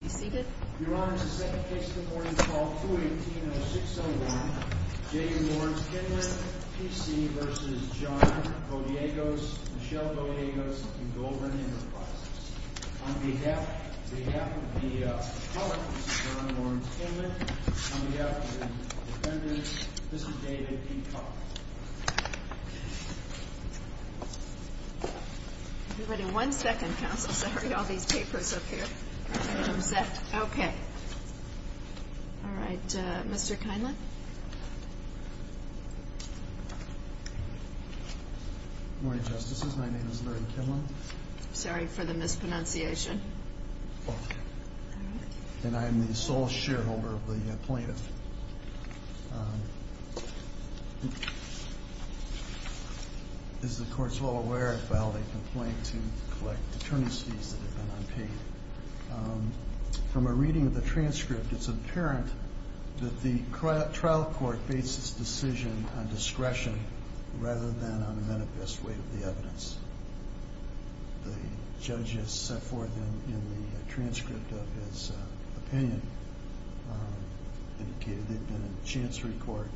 On behalf of the public, this is J. Laurence Kienlen, on behalf of the defendants, this is David P. Coughlin. Good morning, justices. My name is Larry Kienlen. I'm sorry for the mispronunciation. And I am the sole shareholder of the plaintiff. As the Court is well aware, I filed a complaint to collect attorney's fees that have been unpaid. From a reading of the transcript, it's apparent that the trial court bases its decision on discretion rather than on a manifest way of the evidence. As the judges set forth in the transcript of his opinion, they've been in a chancery court.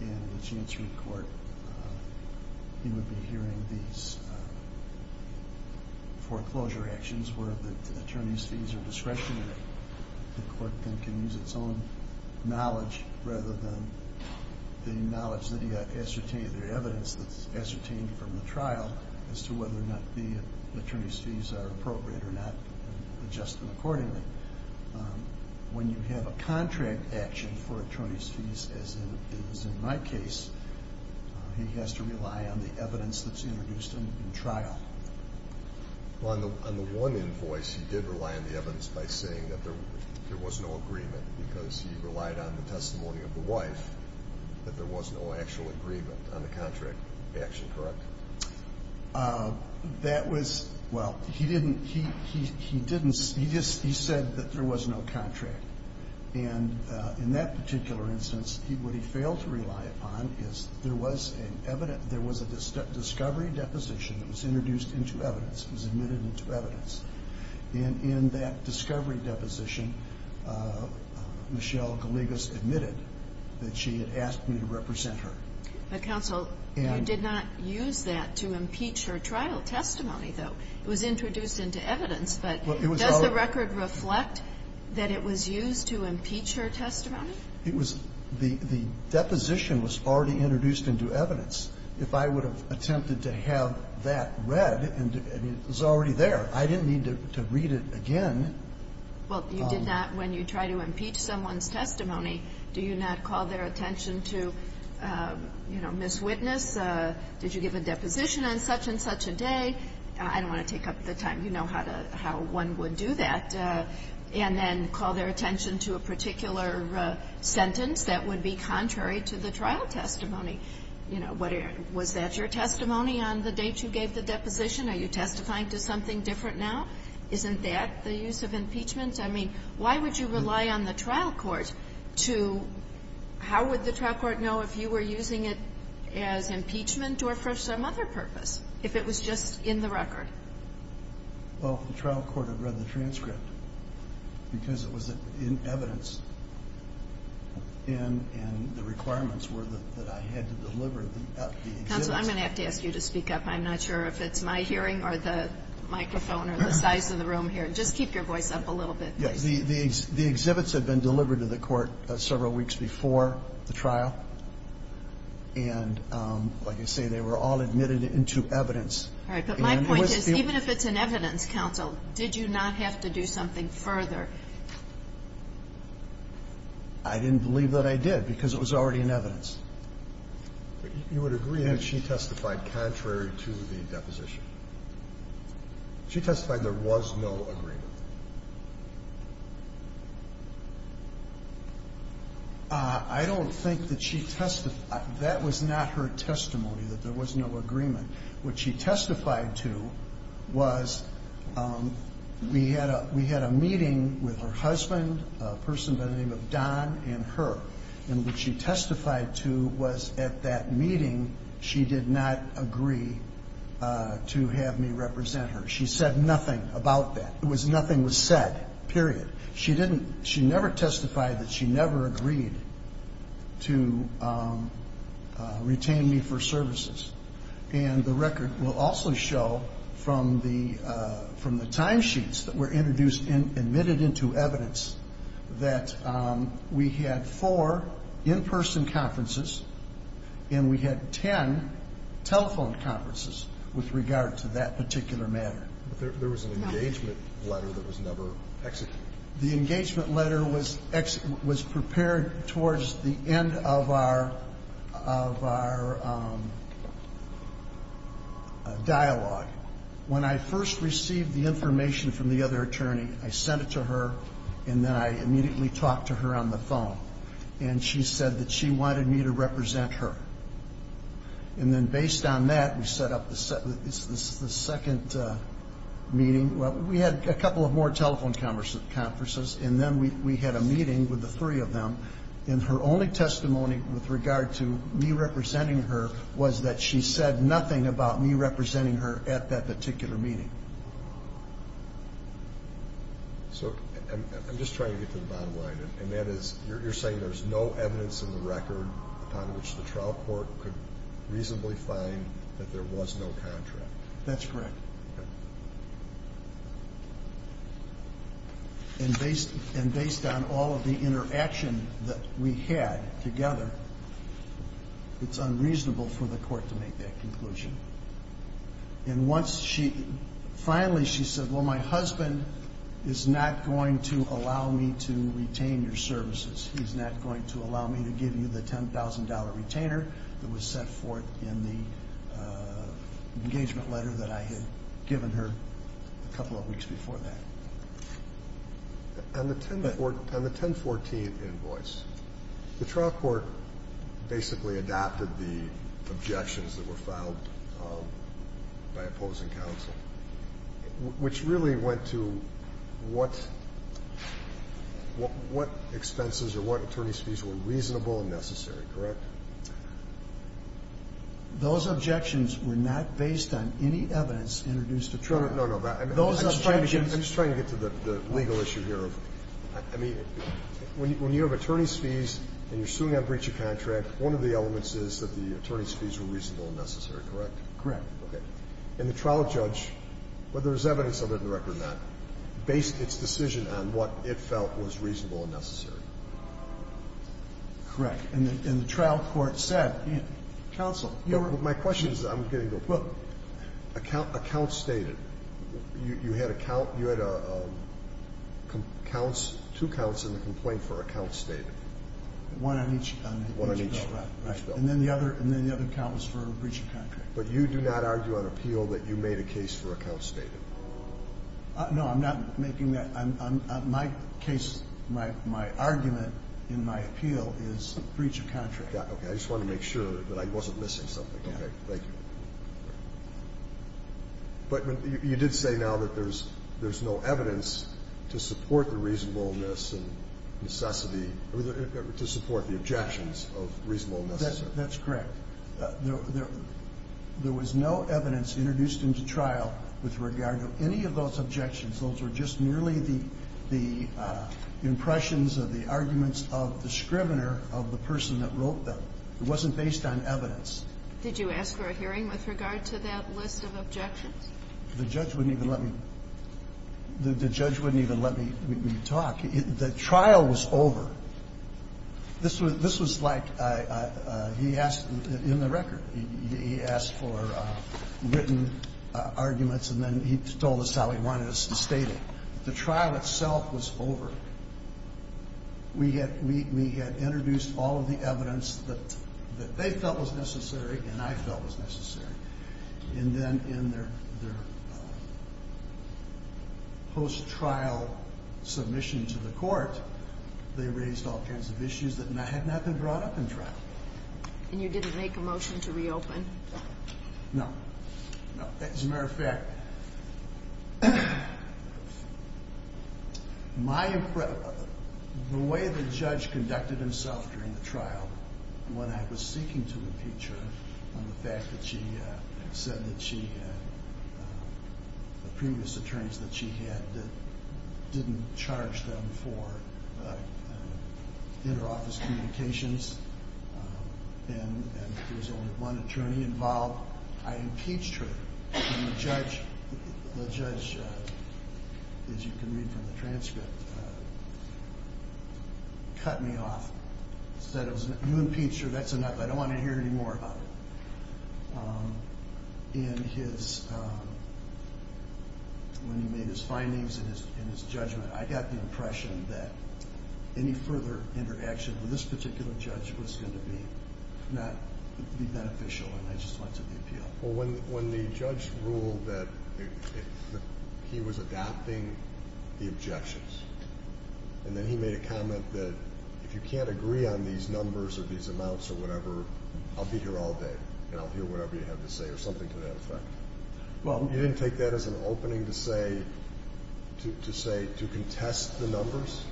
And in a chancery court, he would be hearing these foreclosure actions where the attorney's fees are discretionary. The court can use its own knowledge rather than the evidence that's ascertained from the trial as to whether or not the attorney's fees are appropriate or not, and adjust them accordingly. When you have a contract action for attorney's fees, as is in my case, he has to rely on the evidence that's introduced in trial. On the one invoice, he did rely on the evidence by saying that there was no agreement, because he relied on the testimony of the wife that there was no actual agreement on the contract action, correct? That was, well, he didn't, he didn't, he just, he said that there was no contract. And in that particular instance, what he failed to rely upon is there was an evidence, there was a discovery deposition that was introduced into evidence, was admitted into evidence. And in that discovery deposition, Michelle Gallegos admitted that she had asked me to represent her. But, counsel, you did not use that to impeach her trial testimony, though. It was introduced into evidence, but does the record reflect that it was used to impeach her testimony? It was, the deposition was already introduced into evidence. If I would have attempted to have that read, and it was already there, I didn't need to read it again. Well, you did not, when you try to impeach someone's testimony, do you not call their attention to, you know, Ms. Witness, did you give a deposition on such and such a day? I don't want to take up the time. You know how to, how one would do that, and then call their attention to a particular sentence that would be contrary to the trial testimony. You know, was that your testimony on the date you gave the deposition? Are you testifying to something different now? Isn't that the use of impeachment? I mean, why would you rely on the trial court to, how would the trial court know if you were using it as impeachment or for some other purpose, if it was just in the record? Well, the trial court had read the transcript because it was in evidence, and the requirements were that I had to deliver the exhibits. Counsel, I'm going to have to ask you to speak up. I'm not sure if it's my hearing or the microphone or the size of the room here. Just keep your voice up a little bit, please. Yes, the exhibits had been delivered to the court several weeks before the trial, and like I say, they were all admitted into evidence. All right. But my point is, even if it's in evidence, counsel, did you not have to do something further? I didn't believe that I did because it was already in evidence. But you would agree that she testified contrary to the deposition? She testified there was no agreement. I don't think that she testified. That was not her testimony, that there was no agreement. What she testified to was we had a meeting with her husband, a person by the name of Don, and her. And what she testified to was at that meeting she did not agree to have me represent her. She said nothing about that. Nothing was said, period. She never testified that she never agreed to retain me for services. And the record will also show from the timesheets that were admitted into evidence that we had four in-person conferences and we had ten telephone conferences with regard to that particular matter. But there was an engagement letter that was never executed. The engagement letter was prepared towards the end of our dialogue. When I first received the information from the other attorney, I sent it to her, and then I immediately talked to her on the phone. And she said that she wanted me to represent her. And then based on that, we set up the second meeting. We had a couple of more telephone conferences, and then we had a meeting with the three of them. And her only testimony with regard to me representing her was that she said nothing about me representing her at that particular meeting. So I'm just trying to get to the bottom line. And that is, you're saying there's no evidence in the record upon which the trial court could reasonably find that there was no contract. That's correct. Okay. And based on all of the interaction that we had together, it's unreasonable for the court to make that conclusion. And finally she said, well, my husband is not going to allow me to retain your services. He's not going to allow me to give you the $10,000 retainer that was set forth in the engagement letter that I had given her a couple of weeks before that. On the 1014 invoice, the trial court basically adapted the objections that were filed by opposing counsel, which really went to what expenses or what attorney's fees were reasonable and necessary, correct? Those objections were not based on any evidence introduced at trial. No, no. I'm just trying to get to the legal issue here. I mean, when you have attorney's fees and you're suing on breach of contract, one of the elements is that the attorney's fees were reasonable and necessary, correct? Correct. Okay. And the trial judge, whether there's evidence of it in the record or not, based its decision on what it felt was reasonable and necessary. Correct. And the trial court said, counsel, you were my question is, I'm going to go. Well, a count stated. You had two counts in the complaint for a count stated. One on each bill. Right. And then the other count was for breach of contract. But you do not argue on appeal that you made a case for a count stated. No, I'm not making that. My case, my argument in my appeal is breach of contract. Okay. I just wanted to make sure that I wasn't missing something. Okay. Thank you. But you did say now that there's no evidence to support the reasonableness and necessity, to support the objections of reasonableness. That's correct. There was no evidence introduced into trial with regard to any of those objections. Those were just merely the impressions of the arguments of the scrivener of the person that wrote them. It wasn't based on evidence. Did you ask for a hearing with regard to that list of objections? The judge wouldn't even let me talk. The trial was over. This was like he asked in the record. He asked for written arguments, and then he told us how he wanted us to state it. The trial itself was over. We had introduced all of the evidence that they felt was necessary and I felt was necessary. And then in their post-trial submission to the court, they raised all kinds of issues that had not been brought up in trial. And you didn't make a motion to reopen? No. As a matter of fact, the way the judge conducted himself during the trial when I was seeking to impeach her on the fact that she said that she had previous attorneys that she had that didn't charge them for interoffice communications and there was only one attorney involved, I impeached her. And the judge, as you can read from the transcript, cut me off. He said, you impeached her. That's enough. I don't want to hear any more about it. And when he made his findings and his judgment, I got the impression that any further interaction with this particular judge was going to be beneficial and I just wanted the appeal. Well, when the judge ruled that he was adopting the objections and then he made a comment that if you can't agree on these numbers or these amounts or whatever, I'll be here all day and I'll hear whatever you have to say or something to that effect. You didn't take that as an opening to say to contest the numbers?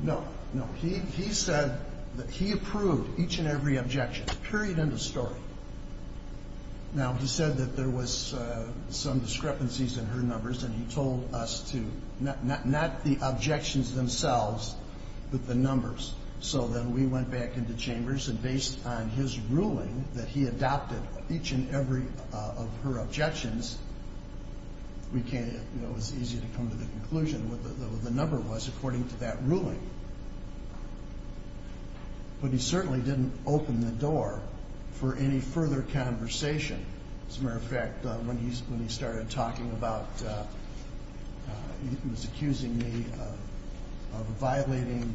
No. No. He said that he approved each and every objection, period, end of story. Now, he said that there was some discrepancies in her numbers and he told us to not the objections themselves but the numbers. So then we went back into chambers and based on his ruling that he adopted each and every of her objections, it was easy to come to the conclusion what the number was according to that ruling. But he certainly didn't open the door for any further conversation. As a matter of fact, when he started talking about he was accusing me of violating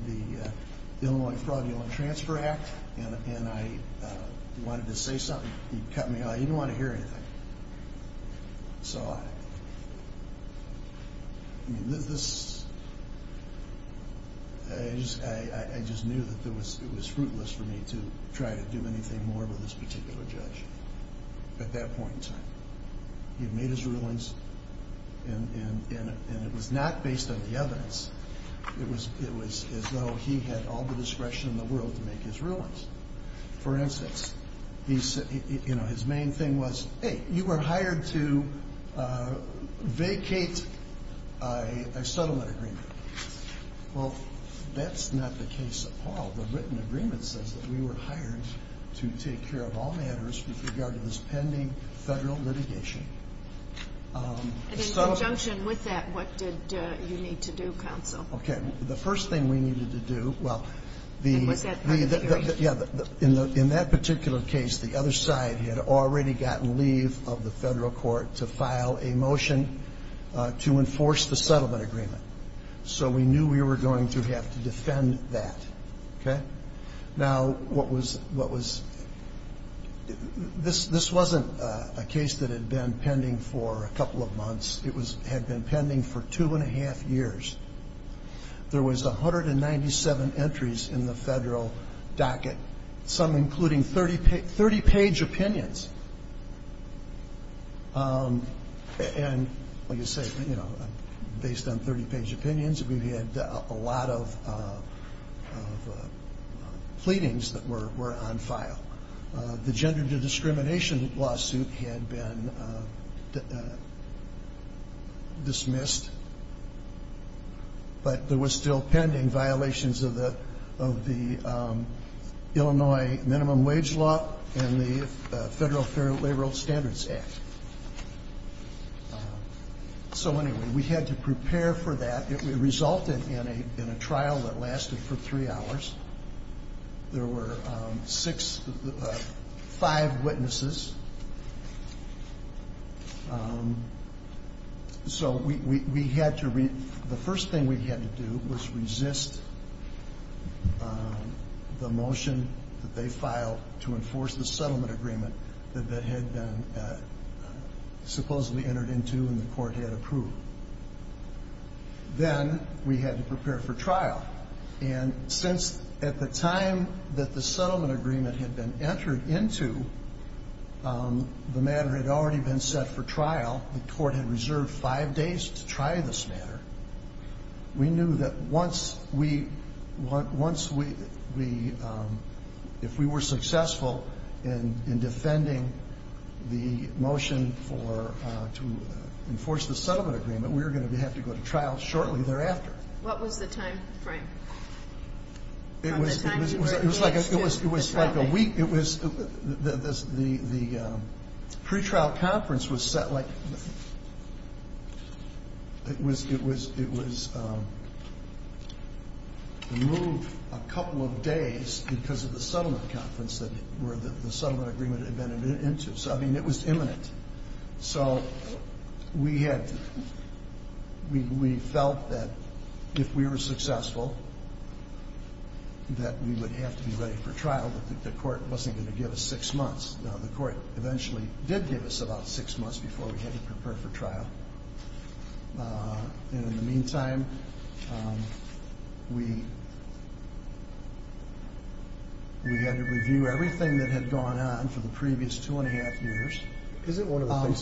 the Illinois Fraudulent Transfer Act and I wanted to say something. He cut me off. He didn't want to hear anything. I just knew that it was fruitless for me to try to do anything more with this particular judge at that point in time. He had made his rulings and it was not based on the evidence. It was as though he had all the discretion in the world to make his rulings. For instance, his main thing was, hey, you were hired to vacate a settlement agreement. Well, that's not the case at all. The written agreement says that we were hired to take care of all matters with regard to this pending federal litigation. And in conjunction with that, what did you need to do, counsel? The first thing we needed to do, well, in that particular case, the other side had already gotten leave of the federal court to file a motion to enforce the settlement agreement. So we knew we were going to have to defend that. Now, this wasn't a case that had been pending for a couple of months. It had been pending for two and a half years. There was 197 entries in the federal docket, some including 30-page opinions. And, like I say, based on 30-page opinions, we had a lot of pleadings that were on file. The gender discrimination lawsuit had been dismissed, but there were still pending violations of the Illinois minimum wage law and the Federal Fair Labor Standards Act. So, anyway, we had to prepare for that. It resulted in a trial that lasted for three hours. There were five witnesses. So the first thing we had to do was resist the motion that they filed to enforce the settlement agreement that had been supposedly entered into and the court had approved. And since at the time that the settlement agreement had been entered into, the matter had already been set for trial, the court had reserved five days to try this matter, we knew that if we were successful in defending the motion to enforce the settlement agreement, we were going to have to go to trial shortly thereafter. What was the time frame? It was like a week. The pretrial conference was set, like, it was removed a couple of days because of the settlement conference that the settlement agreement had been entered into. So, I mean, it was imminent. So we felt that if we were successful, that we would have to be ready for trial, but the court wasn't going to give us six months. Now, the court eventually did give us about six months before we had to prepare for trial. And in the meantime, we had to review everything that had gone on for the previous two-and-a-half years. Isn't one of the things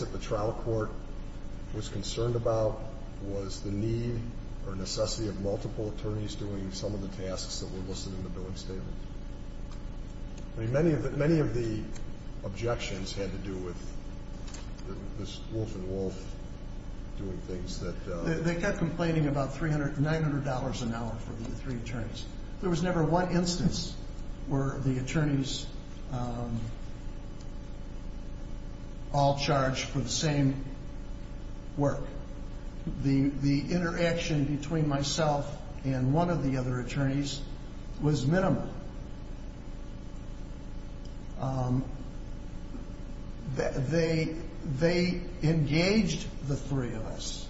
that the trial court was concerned about was the need or necessity of multiple attorneys doing some of the tasks that were listed in the billing statement? I mean, many of the objections had to do with this wolf-in-wolf doing things. They kept complaining about $900 an hour for the three attorneys. There was never one instance where the attorneys all charged for the same work. The interaction between myself and one of the other attorneys was minimal. They engaged the three of us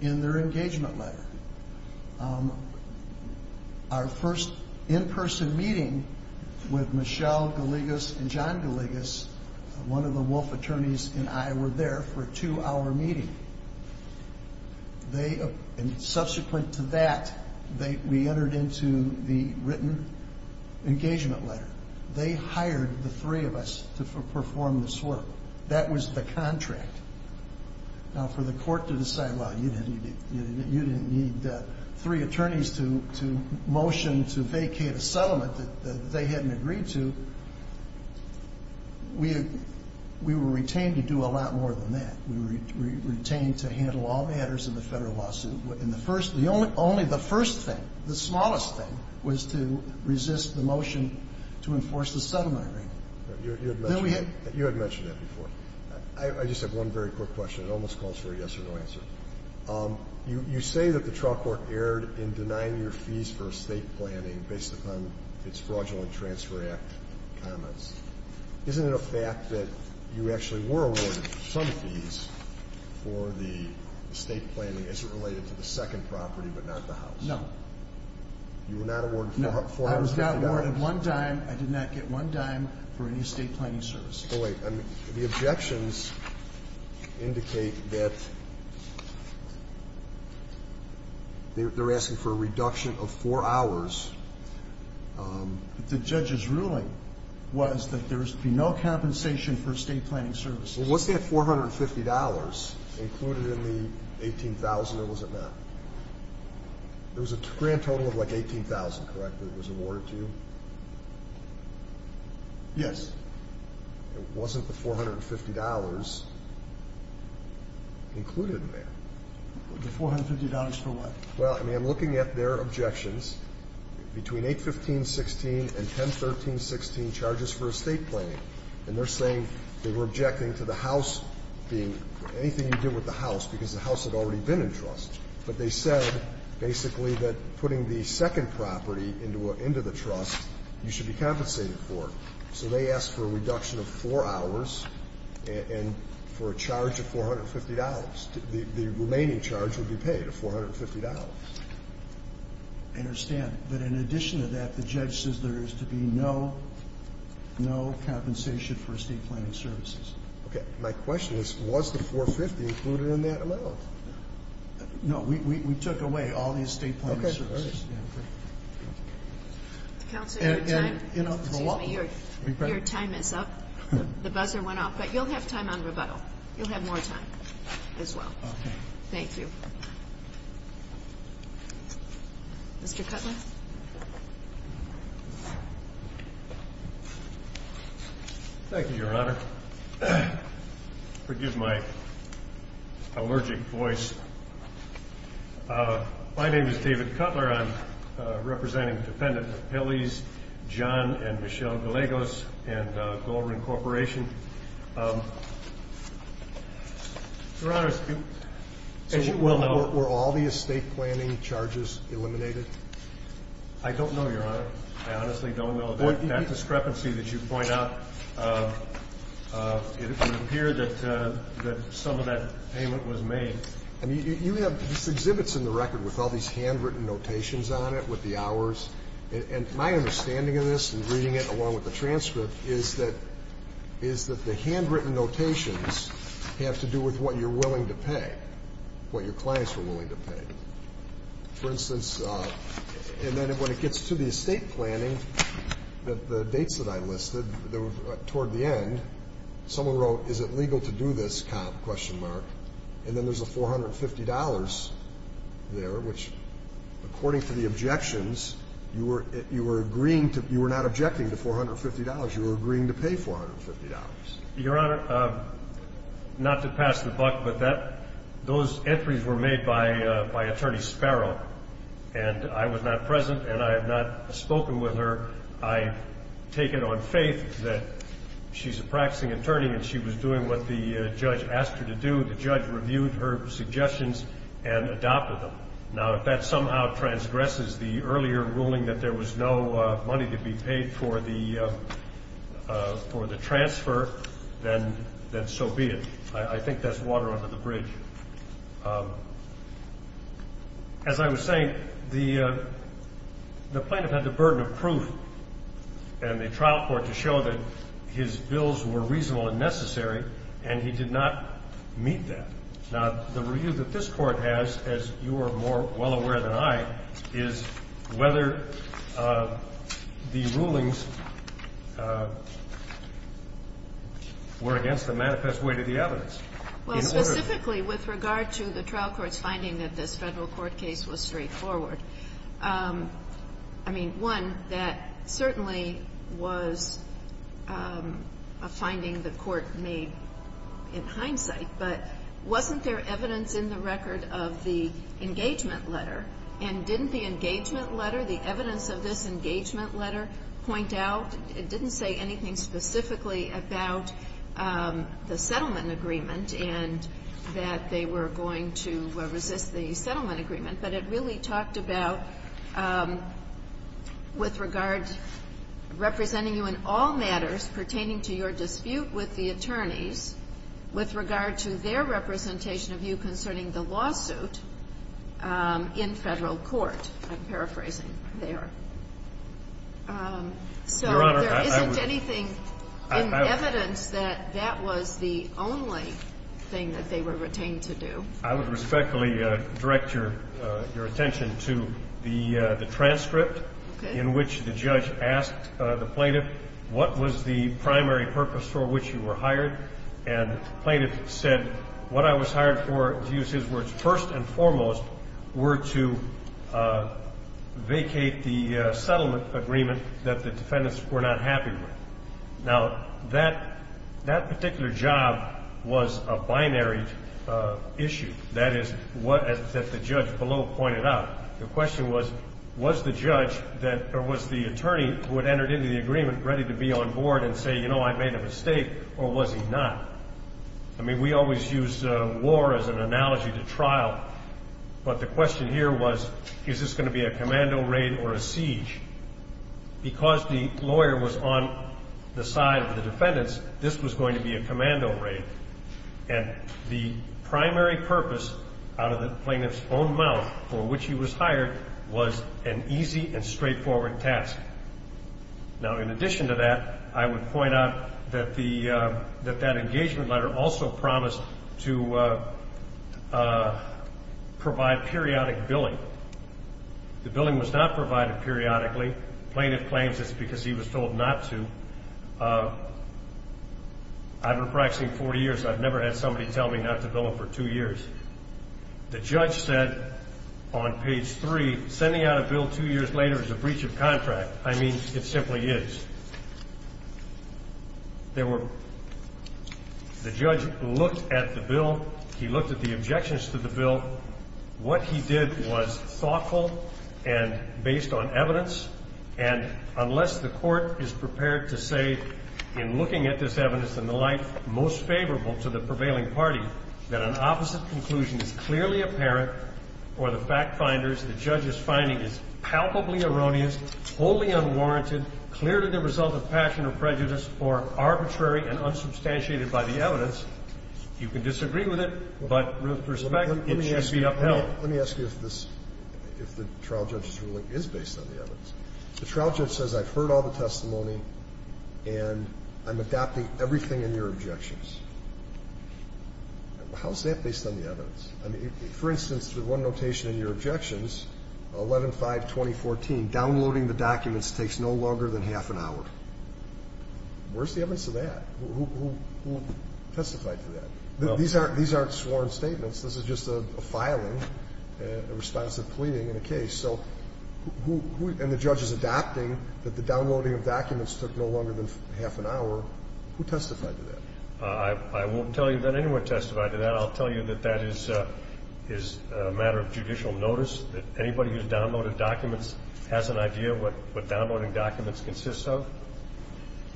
in their engagement letter. Our first in-person meeting with Michelle Gallegos and John Gallegos, one of the wolf attorneys and I were there for a two-hour meeting. Subsequent to that, we entered into the written engagement letter. They hired the three of us to perform this work. That was the contract. Now, for the court to decide, well, you didn't need three attorneys to motion to vacate a settlement that they hadn't agreed to, we were retained to do a lot more than that. We were retained to handle all matters of the federal lawsuit. Only the first thing, the smallest thing, was to resist the motion to enforce the settlement agreement. You had mentioned that before. I just have one very quick question. It almost calls for a yes or no answer. You say that the trial court erred in denying your fees for estate planning based upon its Fraudulent Transfer Act comments. Isn't it a fact that you actually were awarded some fees for the estate planning? Is it related to the second property but not the house? No. You were not awarded $450? No. I was not awarded one dime. I did not get one dime for any estate planning services. Oh, wait. The objections indicate that they're asking for a reduction of four hours. The judge's ruling was that there would be no compensation for estate planning services. Was that $450 included in the $18,000 or was it not? There was a grand total of like $18,000, correct, that was awarded to you? Yes. It wasn't the $450 included in there. The $450 for what? Well, I mean, I'm looking at their objections. Between 815.16 and 1013.16, charges for estate planning, and they're saying they were objecting to the house being anything you did with the house because the house had already been in trust. But they said basically that putting the second property into the trust, you should be compensated for it. So they asked for a reduction of four hours and for a charge of $450. The remaining charge would be paid, $450. I understand. But in addition to that, the judge says there is to be no compensation for estate planning services. Okay. My question is, was the $450 included in that amount? We took away all the estate planning services. Okay. All right. Counsel, your time is up. The buzzer went off, but you'll have time on rebuttal. You'll have more time as well. Okay. Thank you. Mr. Cutler? Thank you, Your Honor. Forgive my allergic voice. My name is David Cutler. I'm representing the defendant of Pelley's, John and Michelle Gallegos, and Goldring Corporation. Your Honor, as you well know. So were all the estate planning charges eliminated? I don't know, Your Honor. I honestly don't know. That discrepancy that you point out, it would appear that some of that payment was made. I mean, you have exhibits in the record with all these handwritten notations on it with the hours, and my understanding of this in reading it along with the transcript is that the handwritten notations have to do with what you're willing to pay, what your clients are willing to pay. For instance, and then when it gets to the estate planning, the dates that I listed toward the end, someone wrote, is it legal to do this, question mark, and then there's a $450 there, which according to the objections, you were not objecting to $450. You were agreeing to pay $450. Your Honor, not to pass the buck, but those entries were made by Attorney Sparrow, and I was not present, and I have not spoken with her. I take it on faith that she's a practicing attorney and she was doing what the judge asked her to do. The judge reviewed her suggestions and adopted them. Now, if that somehow transgresses the earlier ruling that there was no money to be paid for the transfer, then so be it. I think that's water under the bridge. As I was saying, the plaintiff had the burden of proof in the trial court to show that his bills were reasonable and necessary, and he did not meet that. Now, the review that this Court has, as you are more well aware than I, is whether the rulings were against the manifest way to the evidence. Well, specifically with regard to the trial court's finding that this Federal court case was straightforward, I mean, one, that certainly was a finding the court made in hindsight, but wasn't there evidence in the record of the engagement letter? And didn't the engagement letter, the evidence of this engagement letter, point out? It didn't say anything specifically about the settlement agreement and that they were going to resist the settlement agreement, but it really talked about with regard, representing you in all matters pertaining to your dispute with the attorneys, with regard to their representation of you concerning the lawsuit in Federal court. I'm paraphrasing there. So there isn't anything in evidence that that was the only thing that they were retained to do. I would respectfully direct your attention to the transcript in which the judge asked the plaintiff, what was the primary purpose for which you were hired? And the plaintiff said, what I was hired for, to use his words, first and foremost, were to vacate the settlement agreement that the defendants were not happy with. Now, that particular job was a binary issue. That is what the judge below pointed out. The question was, was the judge or was the attorney who had entered into the agreement ready to be on board and say, you know, I made a mistake, or was he not? I mean, we always use war as an analogy to trial. But the question here was, is this going to be a commando raid or a siege? Because the lawyer was on the side of the defendants, this was going to be a commando raid. And the primary purpose out of the plaintiff's own mouth for which he was hired was an easy and straightforward task. Now, in addition to that, I would point out that that engagement letter also promised to provide periodic billing. The billing was not provided periodically. The plaintiff claims it's because he was told not to. I've been practicing 40 years. I've never had somebody tell me not to bill him for two years. The judge said on page three, sending out a bill two years later is a breach of contract. I mean, it simply is. The judge looked at the bill. He looked at the objections to the bill. What he did was thoughtful and based on evidence. And unless the court is prepared to say, in looking at this evidence and the like, most favorable to the prevailing party, that an opposite conclusion is clearly apparent or the fact finders, the judge's finding is palpably erroneous, wholly unwarranted, clear to the result of passion or prejudice, or arbitrary and unsubstantiated by the evidence, you can disagree with it. But with respect, it should be upheld. Let me ask you if the trial judge's ruling is based on the evidence. The trial judge says I've heard all the testimony and I'm adopting everything in your objections. How is that based on the evidence? I mean, for instance, the one notation in your objections, 11-5-2014, downloading the documents takes no longer than half an hour. Where's the evidence of that? Who testified to that? These aren't sworn statements. This is just a filing, a response to pleading in a case. So who – and the judge is adopting that the downloading of documents took no longer than half an hour. Who testified to that? I won't tell you that anyone testified to that. I'll tell you that that is a matter of judicial notice, that anybody who's downloaded documents has an idea of what downloading documents consists of.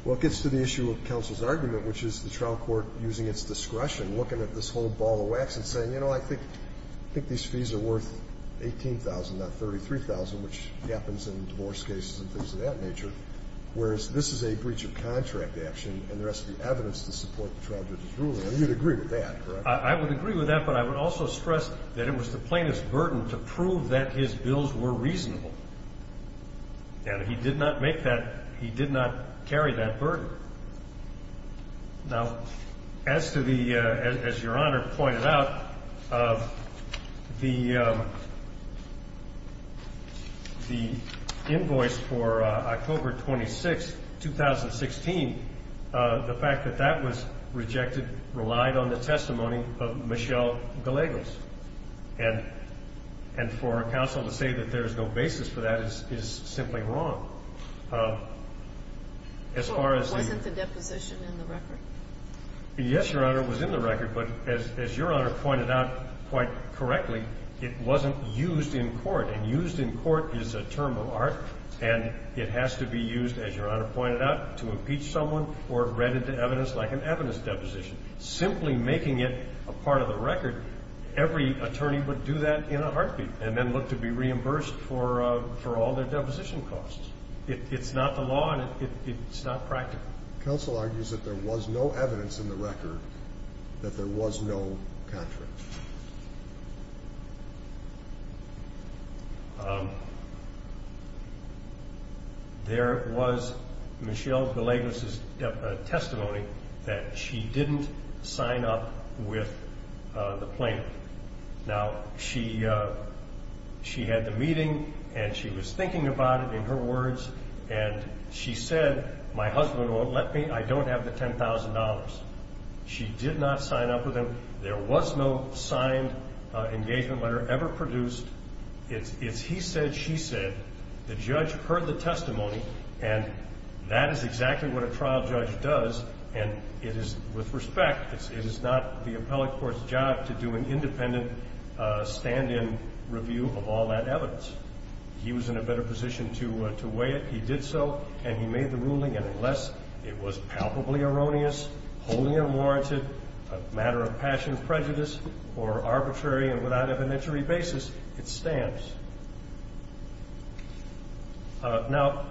Well, it gets to the issue of counsel's argument, which is the trial court using its discretion, looking at this whole ball of wax and saying, you know, I think these fees are worth $18,000, not $33,000, which happens in divorce cases and things of that nature, whereas this is a breach of contract action and there has to be evidence to support the trial judge's ruling. I mean, you'd agree with that, correct? I would agree with that, but I would also stress that it was the plaintiff's burden to prove that his bills were reasonable. Now, as to the – as Your Honor pointed out, the invoice for October 26, 2016, the fact that that was rejected relied on the testimony of Michelle Gallegos. And for counsel to say that there is no basis for that is simply wrong. So it wasn't the deposition in the record? Yes, Your Honor, it was in the record. But as Your Honor pointed out quite correctly, it wasn't used in court. And used in court is a term of art and it has to be used, as Your Honor pointed out, to impeach someone or read into evidence like an evidence deposition. Simply making it a part of the record, every attorney would do that in a heartbeat and then look to be reimbursed for all their deposition costs. It's not the law and it's not practical. Counsel argues that there was no evidence in the record that there was no contract. There was Michelle Gallegos' testimony that she didn't sign up with the plaintiff. Now, she had the meeting and she was thinking about it in her words and she said, my husband won't let me, I don't have the $10,000. She did not sign up with him. There was no signed engagement letter ever produced. It's he said, she said. The judge heard the testimony and that is exactly what a trial judge does. And it is, with respect, it is not the appellate court's job to do an independent stand-in review of all that evidence. He was in a better position to weigh it. He did so and he made the ruling. And unless it was palpably erroneous, wholly unwarranted, a matter of passion, prejudice, or arbitrary and without evidentiary basis, it stands. Now,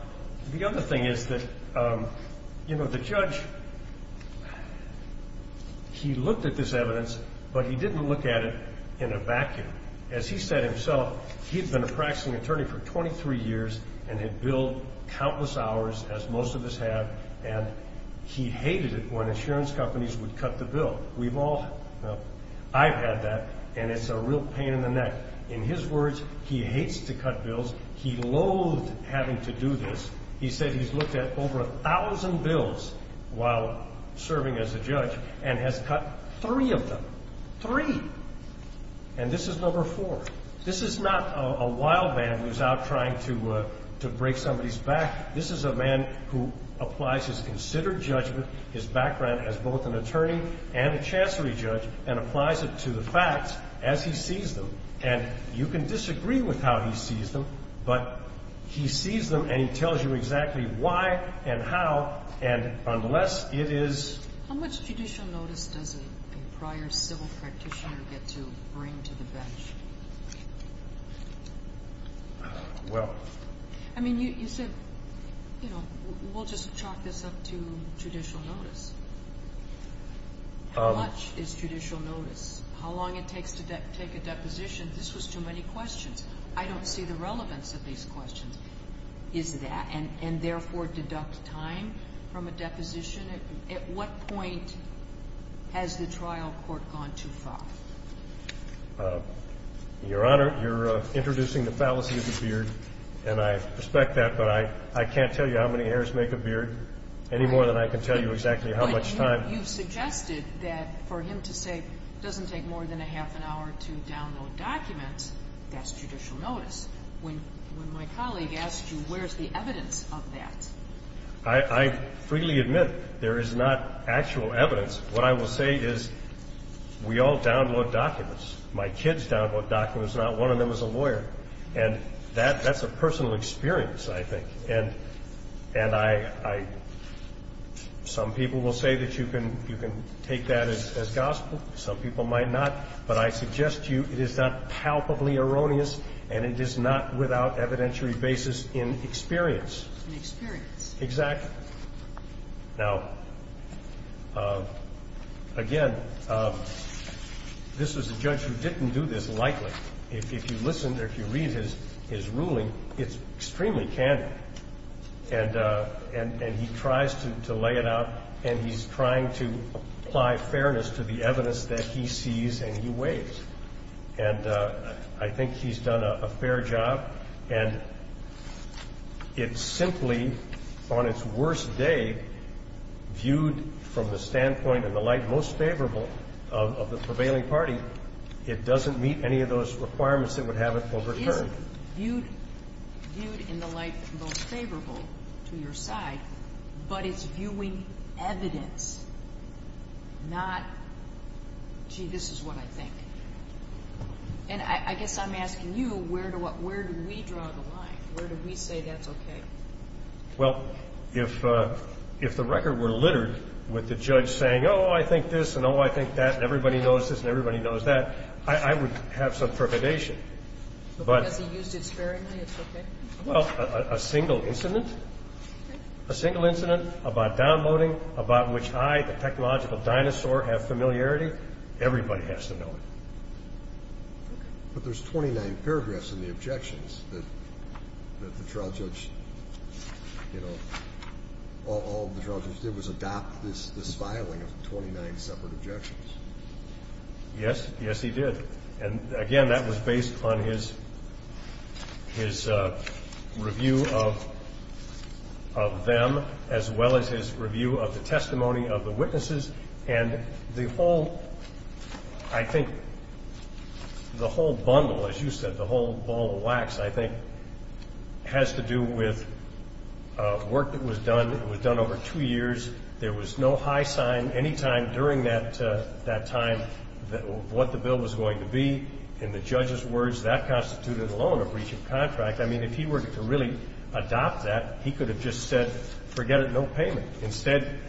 the other thing is that, you know, the judge, he looked at this evidence, but he didn't look at it in a vacuum. As he said himself, he had been a practicing attorney for 23 years and had billed countless hours, as most of us have, and he hated it when insurance companies would cut the bill. We've all, well, I've had that and it's a real pain in the neck. He said, in his words, he hates to cut bills. He loathed having to do this. He said he's looked at over 1,000 bills while serving as a judge and has cut three of them, three. And this is number four. This is not a wild man who's out trying to break somebody's back. This is a man who applies his considered judgment, his background as both an attorney and a chancery judge, and applies it to the facts as he sees them. And you can disagree with how he sees them, but he sees them and he tells you exactly why and how, and unless it is. How much judicial notice does a prior civil practitioner get to bring to the bench? Well. I mean, you said, you know, we'll just chalk this up to judicial notice. How much is judicial notice? How long it takes to take a deposition? This was too many questions. I don't see the relevance of these questions. Is that, and therefore deduct time from a deposition? At what point has the trial court gone too far? Your Honor, you're introducing the fallacy of the beard, and I respect that, but I can't tell you how many heirs make a beard any more than I can tell you exactly how much time. But you suggested that for him to say it doesn't take more than a half an hour to download documents, that's judicial notice. When my colleague asked you, where's the evidence of that? I freely admit there is not actual evidence. What I will say is we all download documents. My kids download documents. Not one of them is a lawyer. And that's a personal experience, I think. And I, some people will say that you can take that as gospel. Some people might not. But I suggest to you it is not palpably erroneous, and it is not without evidentiary basis in experience. In experience. Exactly. Now, again, this is a judge who didn't do this lightly. If you listen or if you read his ruling, it's extremely candid. And he tries to lay it out, and he's trying to apply fairness to the evidence that he sees and he weighs. And I think he's done a fair job. And it simply, on its worst day, viewed from the standpoint and the light most favorable of the prevailing party, it doesn't meet any of those requirements that would have it overturned. It isn't viewed in the light most favorable to your side, but it's viewing evidence, not, gee, this is what I think. And I guess I'm asking you, where do we draw the line? Where do we say that's okay? Well, if the record were littered with the judge saying, oh, I think this, and oh, I think that, and everybody knows this, and everybody knows that, I would have some trepidation. But because he used it sparingly, it's okay? Well, a single incident, a single incident about downloading, about which I, a technological dinosaur, have familiarity, everybody has to know it. But there's 29 paragraphs in the objections that the trial judge, you know, all the trial judge did was adopt this filing of 29 separate objections. Yes. Yes, he did. And, again, that was based on his review of them as well as his review of the witnesses. And the whole, I think, the whole bundle, as you said, the whole ball of wax, I think, has to do with work that was done. It was done over two years. There was no high sign any time during that time of what the bill was going to be. In the judge's words, that constituted alone a breach of contract. I mean, if he were to really adopt that, he could have just said, forget it, no payment. Instead,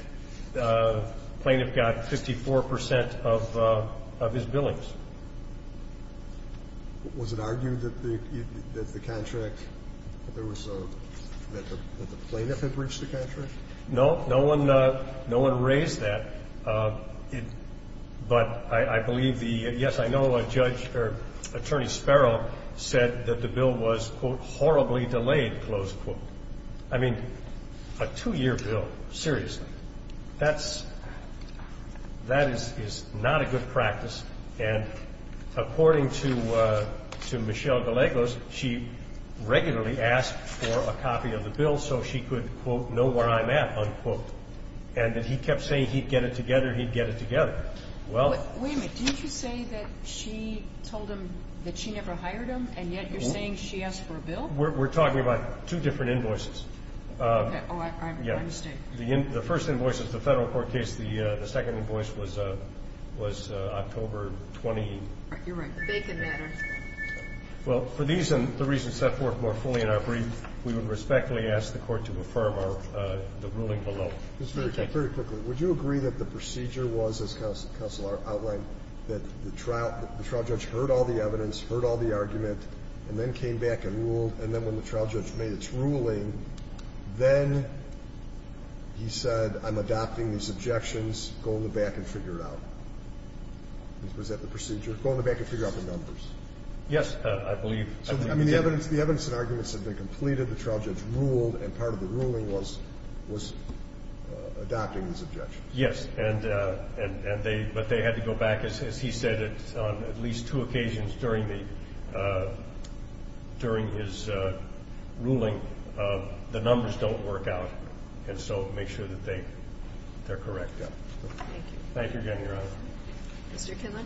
the plaintiff got 54% of his billings. Was it argued that the contract, that the plaintiff had breached the contract? No. No one raised that. But I believe the, yes, I know a judge, or Attorney Sparrow said that the bill was, quote, horribly delayed, close quote. I mean, a two-year bill, seriously, that's, that is not a good practice. And according to Michelle Gallegos, she regularly asked for a copy of the bill so she could, quote, know where I'm at, unquote. And he kept saying he'd get it together, he'd get it together. Well ---- Wait a minute. Didn't you say that she told him that she never hired him, and yet you're saying she asked for a bill? We're talking about two different invoices. Okay. Oh, I'm, I'm mistaken. Yes. The first invoice is the Federal court case. The second invoice was October 20. You're right. The Bacon matter. Well, for these and the reasons set forth more fully in our brief, we would respectfully ask the Court to affirm our, the ruling below. Thank you. Just very quickly, would you agree that the procedure was, as counsel outlined, that the trial, the trial judge heard all the evidence, heard all the argument and then came back and ruled, and then when the trial judge made its ruling, then he said, I'm adopting these objections, go in the back and figure it out. Was that the procedure? Go in the back and figure out the numbers. Yes, I believe. So, I mean, the evidence, the evidence and arguments had been completed, the trial judge ruled, and part of the ruling was, was adopting these objections. Yes. And, and they, but they had to go back, as he said, on at least two occasions during the, during his ruling. The numbers don't work out. And so, make sure that they, they're correct. Thank you. Thank you again, Your Honor. Mr. Kinlan.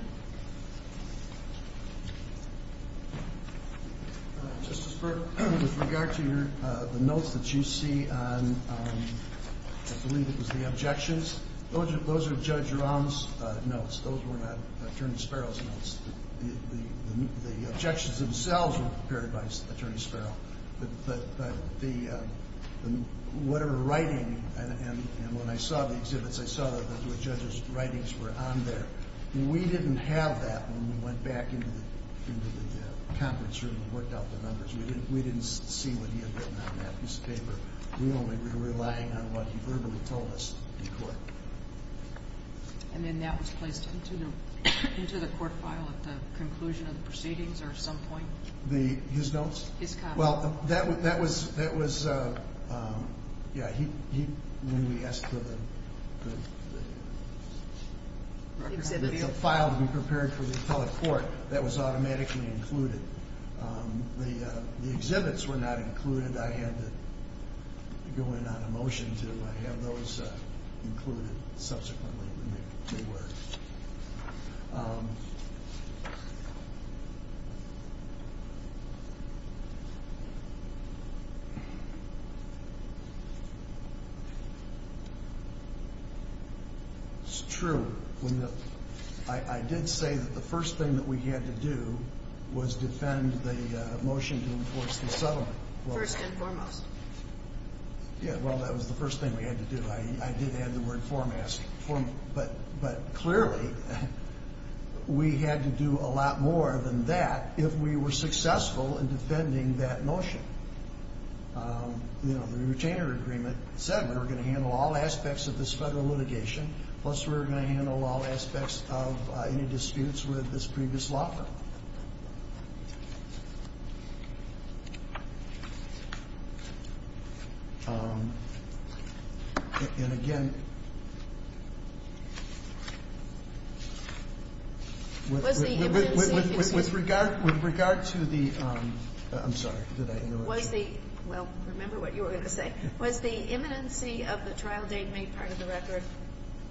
Justice Burke, with regard to your, the notes that you see on, I believe it was the objections, those are, those are Judge Jerome's notes, those were not Attorney Sparrow's notes. The, the objections themselves were prepared by Attorney Sparrow. But, but the, whatever writing, and, and when I saw the exhibits, I saw that those were Judge's writings were on there. We didn't have that when we went back into the, into the conference room and worked out the numbers. We didn't, we didn't see what he had written on that piece of paper. We only were relying on what he verbally told us in court. And then that was placed into the, into the court file at the conclusion of the proceedings, or at some point? The, his notes? His comments. Well, that, that was, that was, yeah, he, he, when we asked for the, the file to be prepared for the appellate court, that was automatically included. The, the exhibits were not included. I had to go in on a motion to have those included subsequently when they, they were. It's true, when the, I, I did say that the first thing that we had to do was defend the motion to enforce the settlement. First and foremost. Yeah, well, that was the first thing we had to do. I, I did add the word foremost. But, but clearly, we had to do a lot more than that if we were successful in defending that motion. You know, the retainer agreement said we were going to handle all aspects of this federal litigation, plus we were going to handle all aspects of any disputes with this previous law firm. And again, with, with, with regard, with regard to the, I'm sorry, did I interrupt? Was the, well, remember what you were going to say. Was the imminency of the trial date made part of the record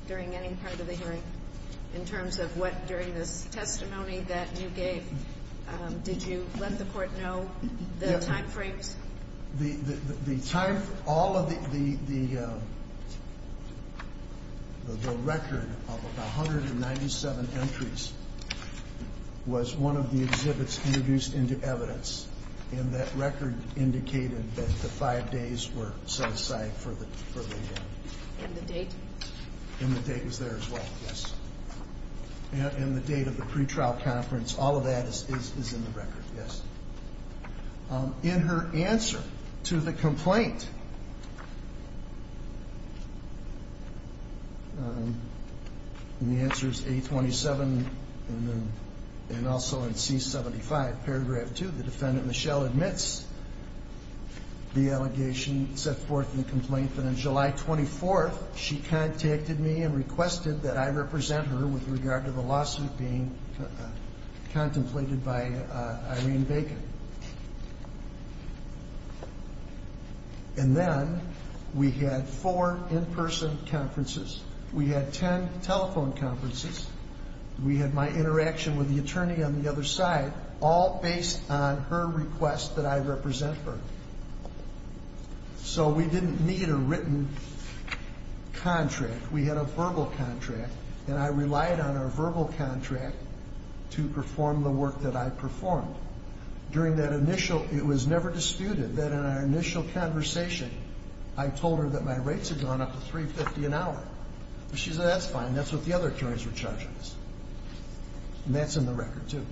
during any part of the hearing? In terms of what, during this testimony that you gave, did you let the court know the time frames? The, the, the time, all of the, the, the record of 197 entries was one of the exhibits introduced into evidence. And that record indicated that the five days were set aside for the, for the. And the date? And the date was there as well, yes. And the date of the pretrial conference, all of that is, is, is in the record, yes. In her answer to the complaint, and the answer is 827, and then, and also in C75, paragraph 2, the defendant, Michelle, admits the allegation set forth in the complaint that on July 24th, she contacted me and requested that I represent her with regard to the lawsuit being contemplated by Irene Bacon. And then we had four in-person conferences. We had ten telephone conferences. We had my interaction with the attorney on the other side, all based on her request that I represent her. So we didn't need a written contract. We had a verbal contract, and I relied on our verbal contract to perform the work that I performed. During that initial, it was never disputed that in our initial conversation, I told her that my rates had gone up to $350 an hour. She said, that's fine. That's what the other attorneys were charging us. And that's in the record too.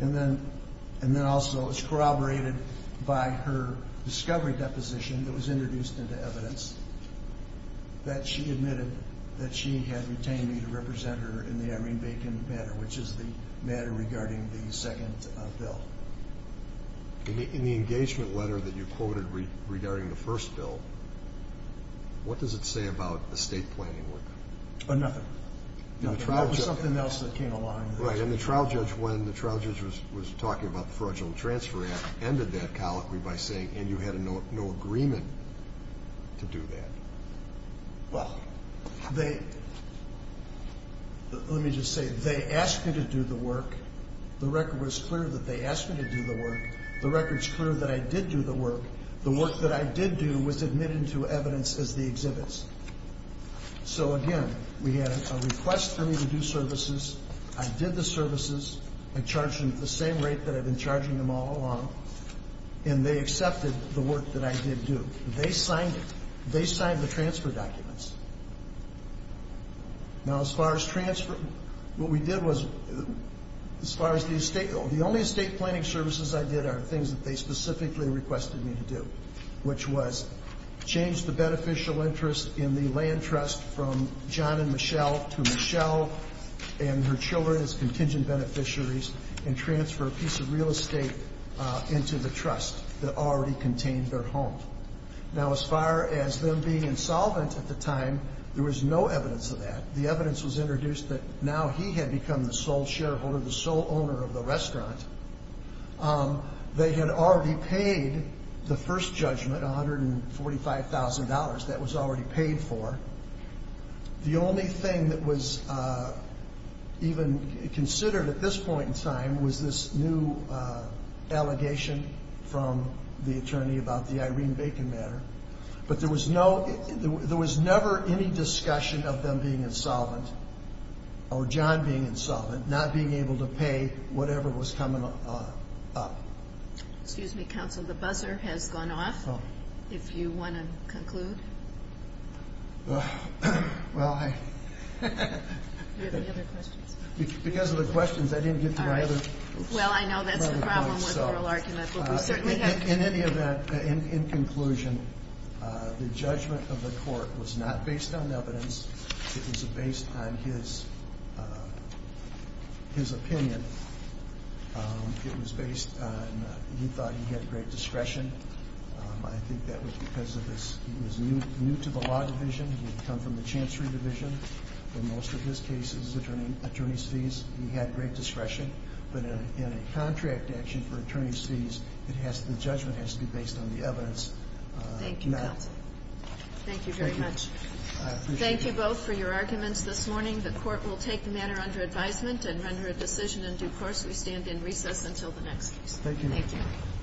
And then, and then also it's corroborated by her discovery deposition that was introduced into evidence that she admitted that she had retained me to represent her in the Irene Bacon matter, which is the matter regarding the second bill. In the engagement letter that you quoted regarding the first bill, what does it say about the state planning work? Nothing. There was something else that came along. Right, and the trial judge, when the trial judge was talking about the fraudulent transfer act, ended that colloquy by saying, and you had no agreement to do that. Well, they, let me just say, they asked me to do the work. The record was clear that they asked me to do the work. The record's clear that I did do the work. The work that I did do was admitted into evidence as the exhibits. So again, we had a request for me to do services. I did the services. I charged them the same rate that I'd been charging them all along, and they accepted the work that I did do. They signed it. They signed the transfer documents. Now, as far as transfer, what we did was, as far as the estate, the only estate planning services I did are things that they specifically requested me to do, which was change the beneficial interest in the land trust from John and Michelle to Michelle and her children as contingent beneficiaries and transfer a piece of real estate into the trust that already contained their home. Now, as far as them being insolvent at the time, there was no evidence of that. The evidence was introduced that now he had become the sole shareholder, the sole owner of the restaurant. They had already paid the first judgment, $145,000. That was already paid for. The only thing that was even considered at this point in time was this new allegation from the attorney about the Irene Bacon matter. But there was never any discussion of them being insolvent or John being insolvent, not being able to pay whatever was coming up. Excuse me, counsel. The buzzer has gone off. If you want to conclude. Well, I... Do you have any other questions? Because of the questions, I didn't get to my other point. Well, I know that's the problem with oral argument, but we certainly have... In any event, in conclusion, the judgment of the court was not based on evidence. It was based on his opinion. It was based on he thought he had great discretion. I think that was because he was new to the law division. He had come from the chancery division. In most of his cases, attorney's fees, he had great discretion. But in a contract action for attorney's fees, the judgment has to be based on the evidence. Thank you, counsel. Thank you very much. I appreciate it. Thank you both for your arguments this morning. The court will take the matter under advisement and render a decision in due course. We stand in recess until the next case. Thank you.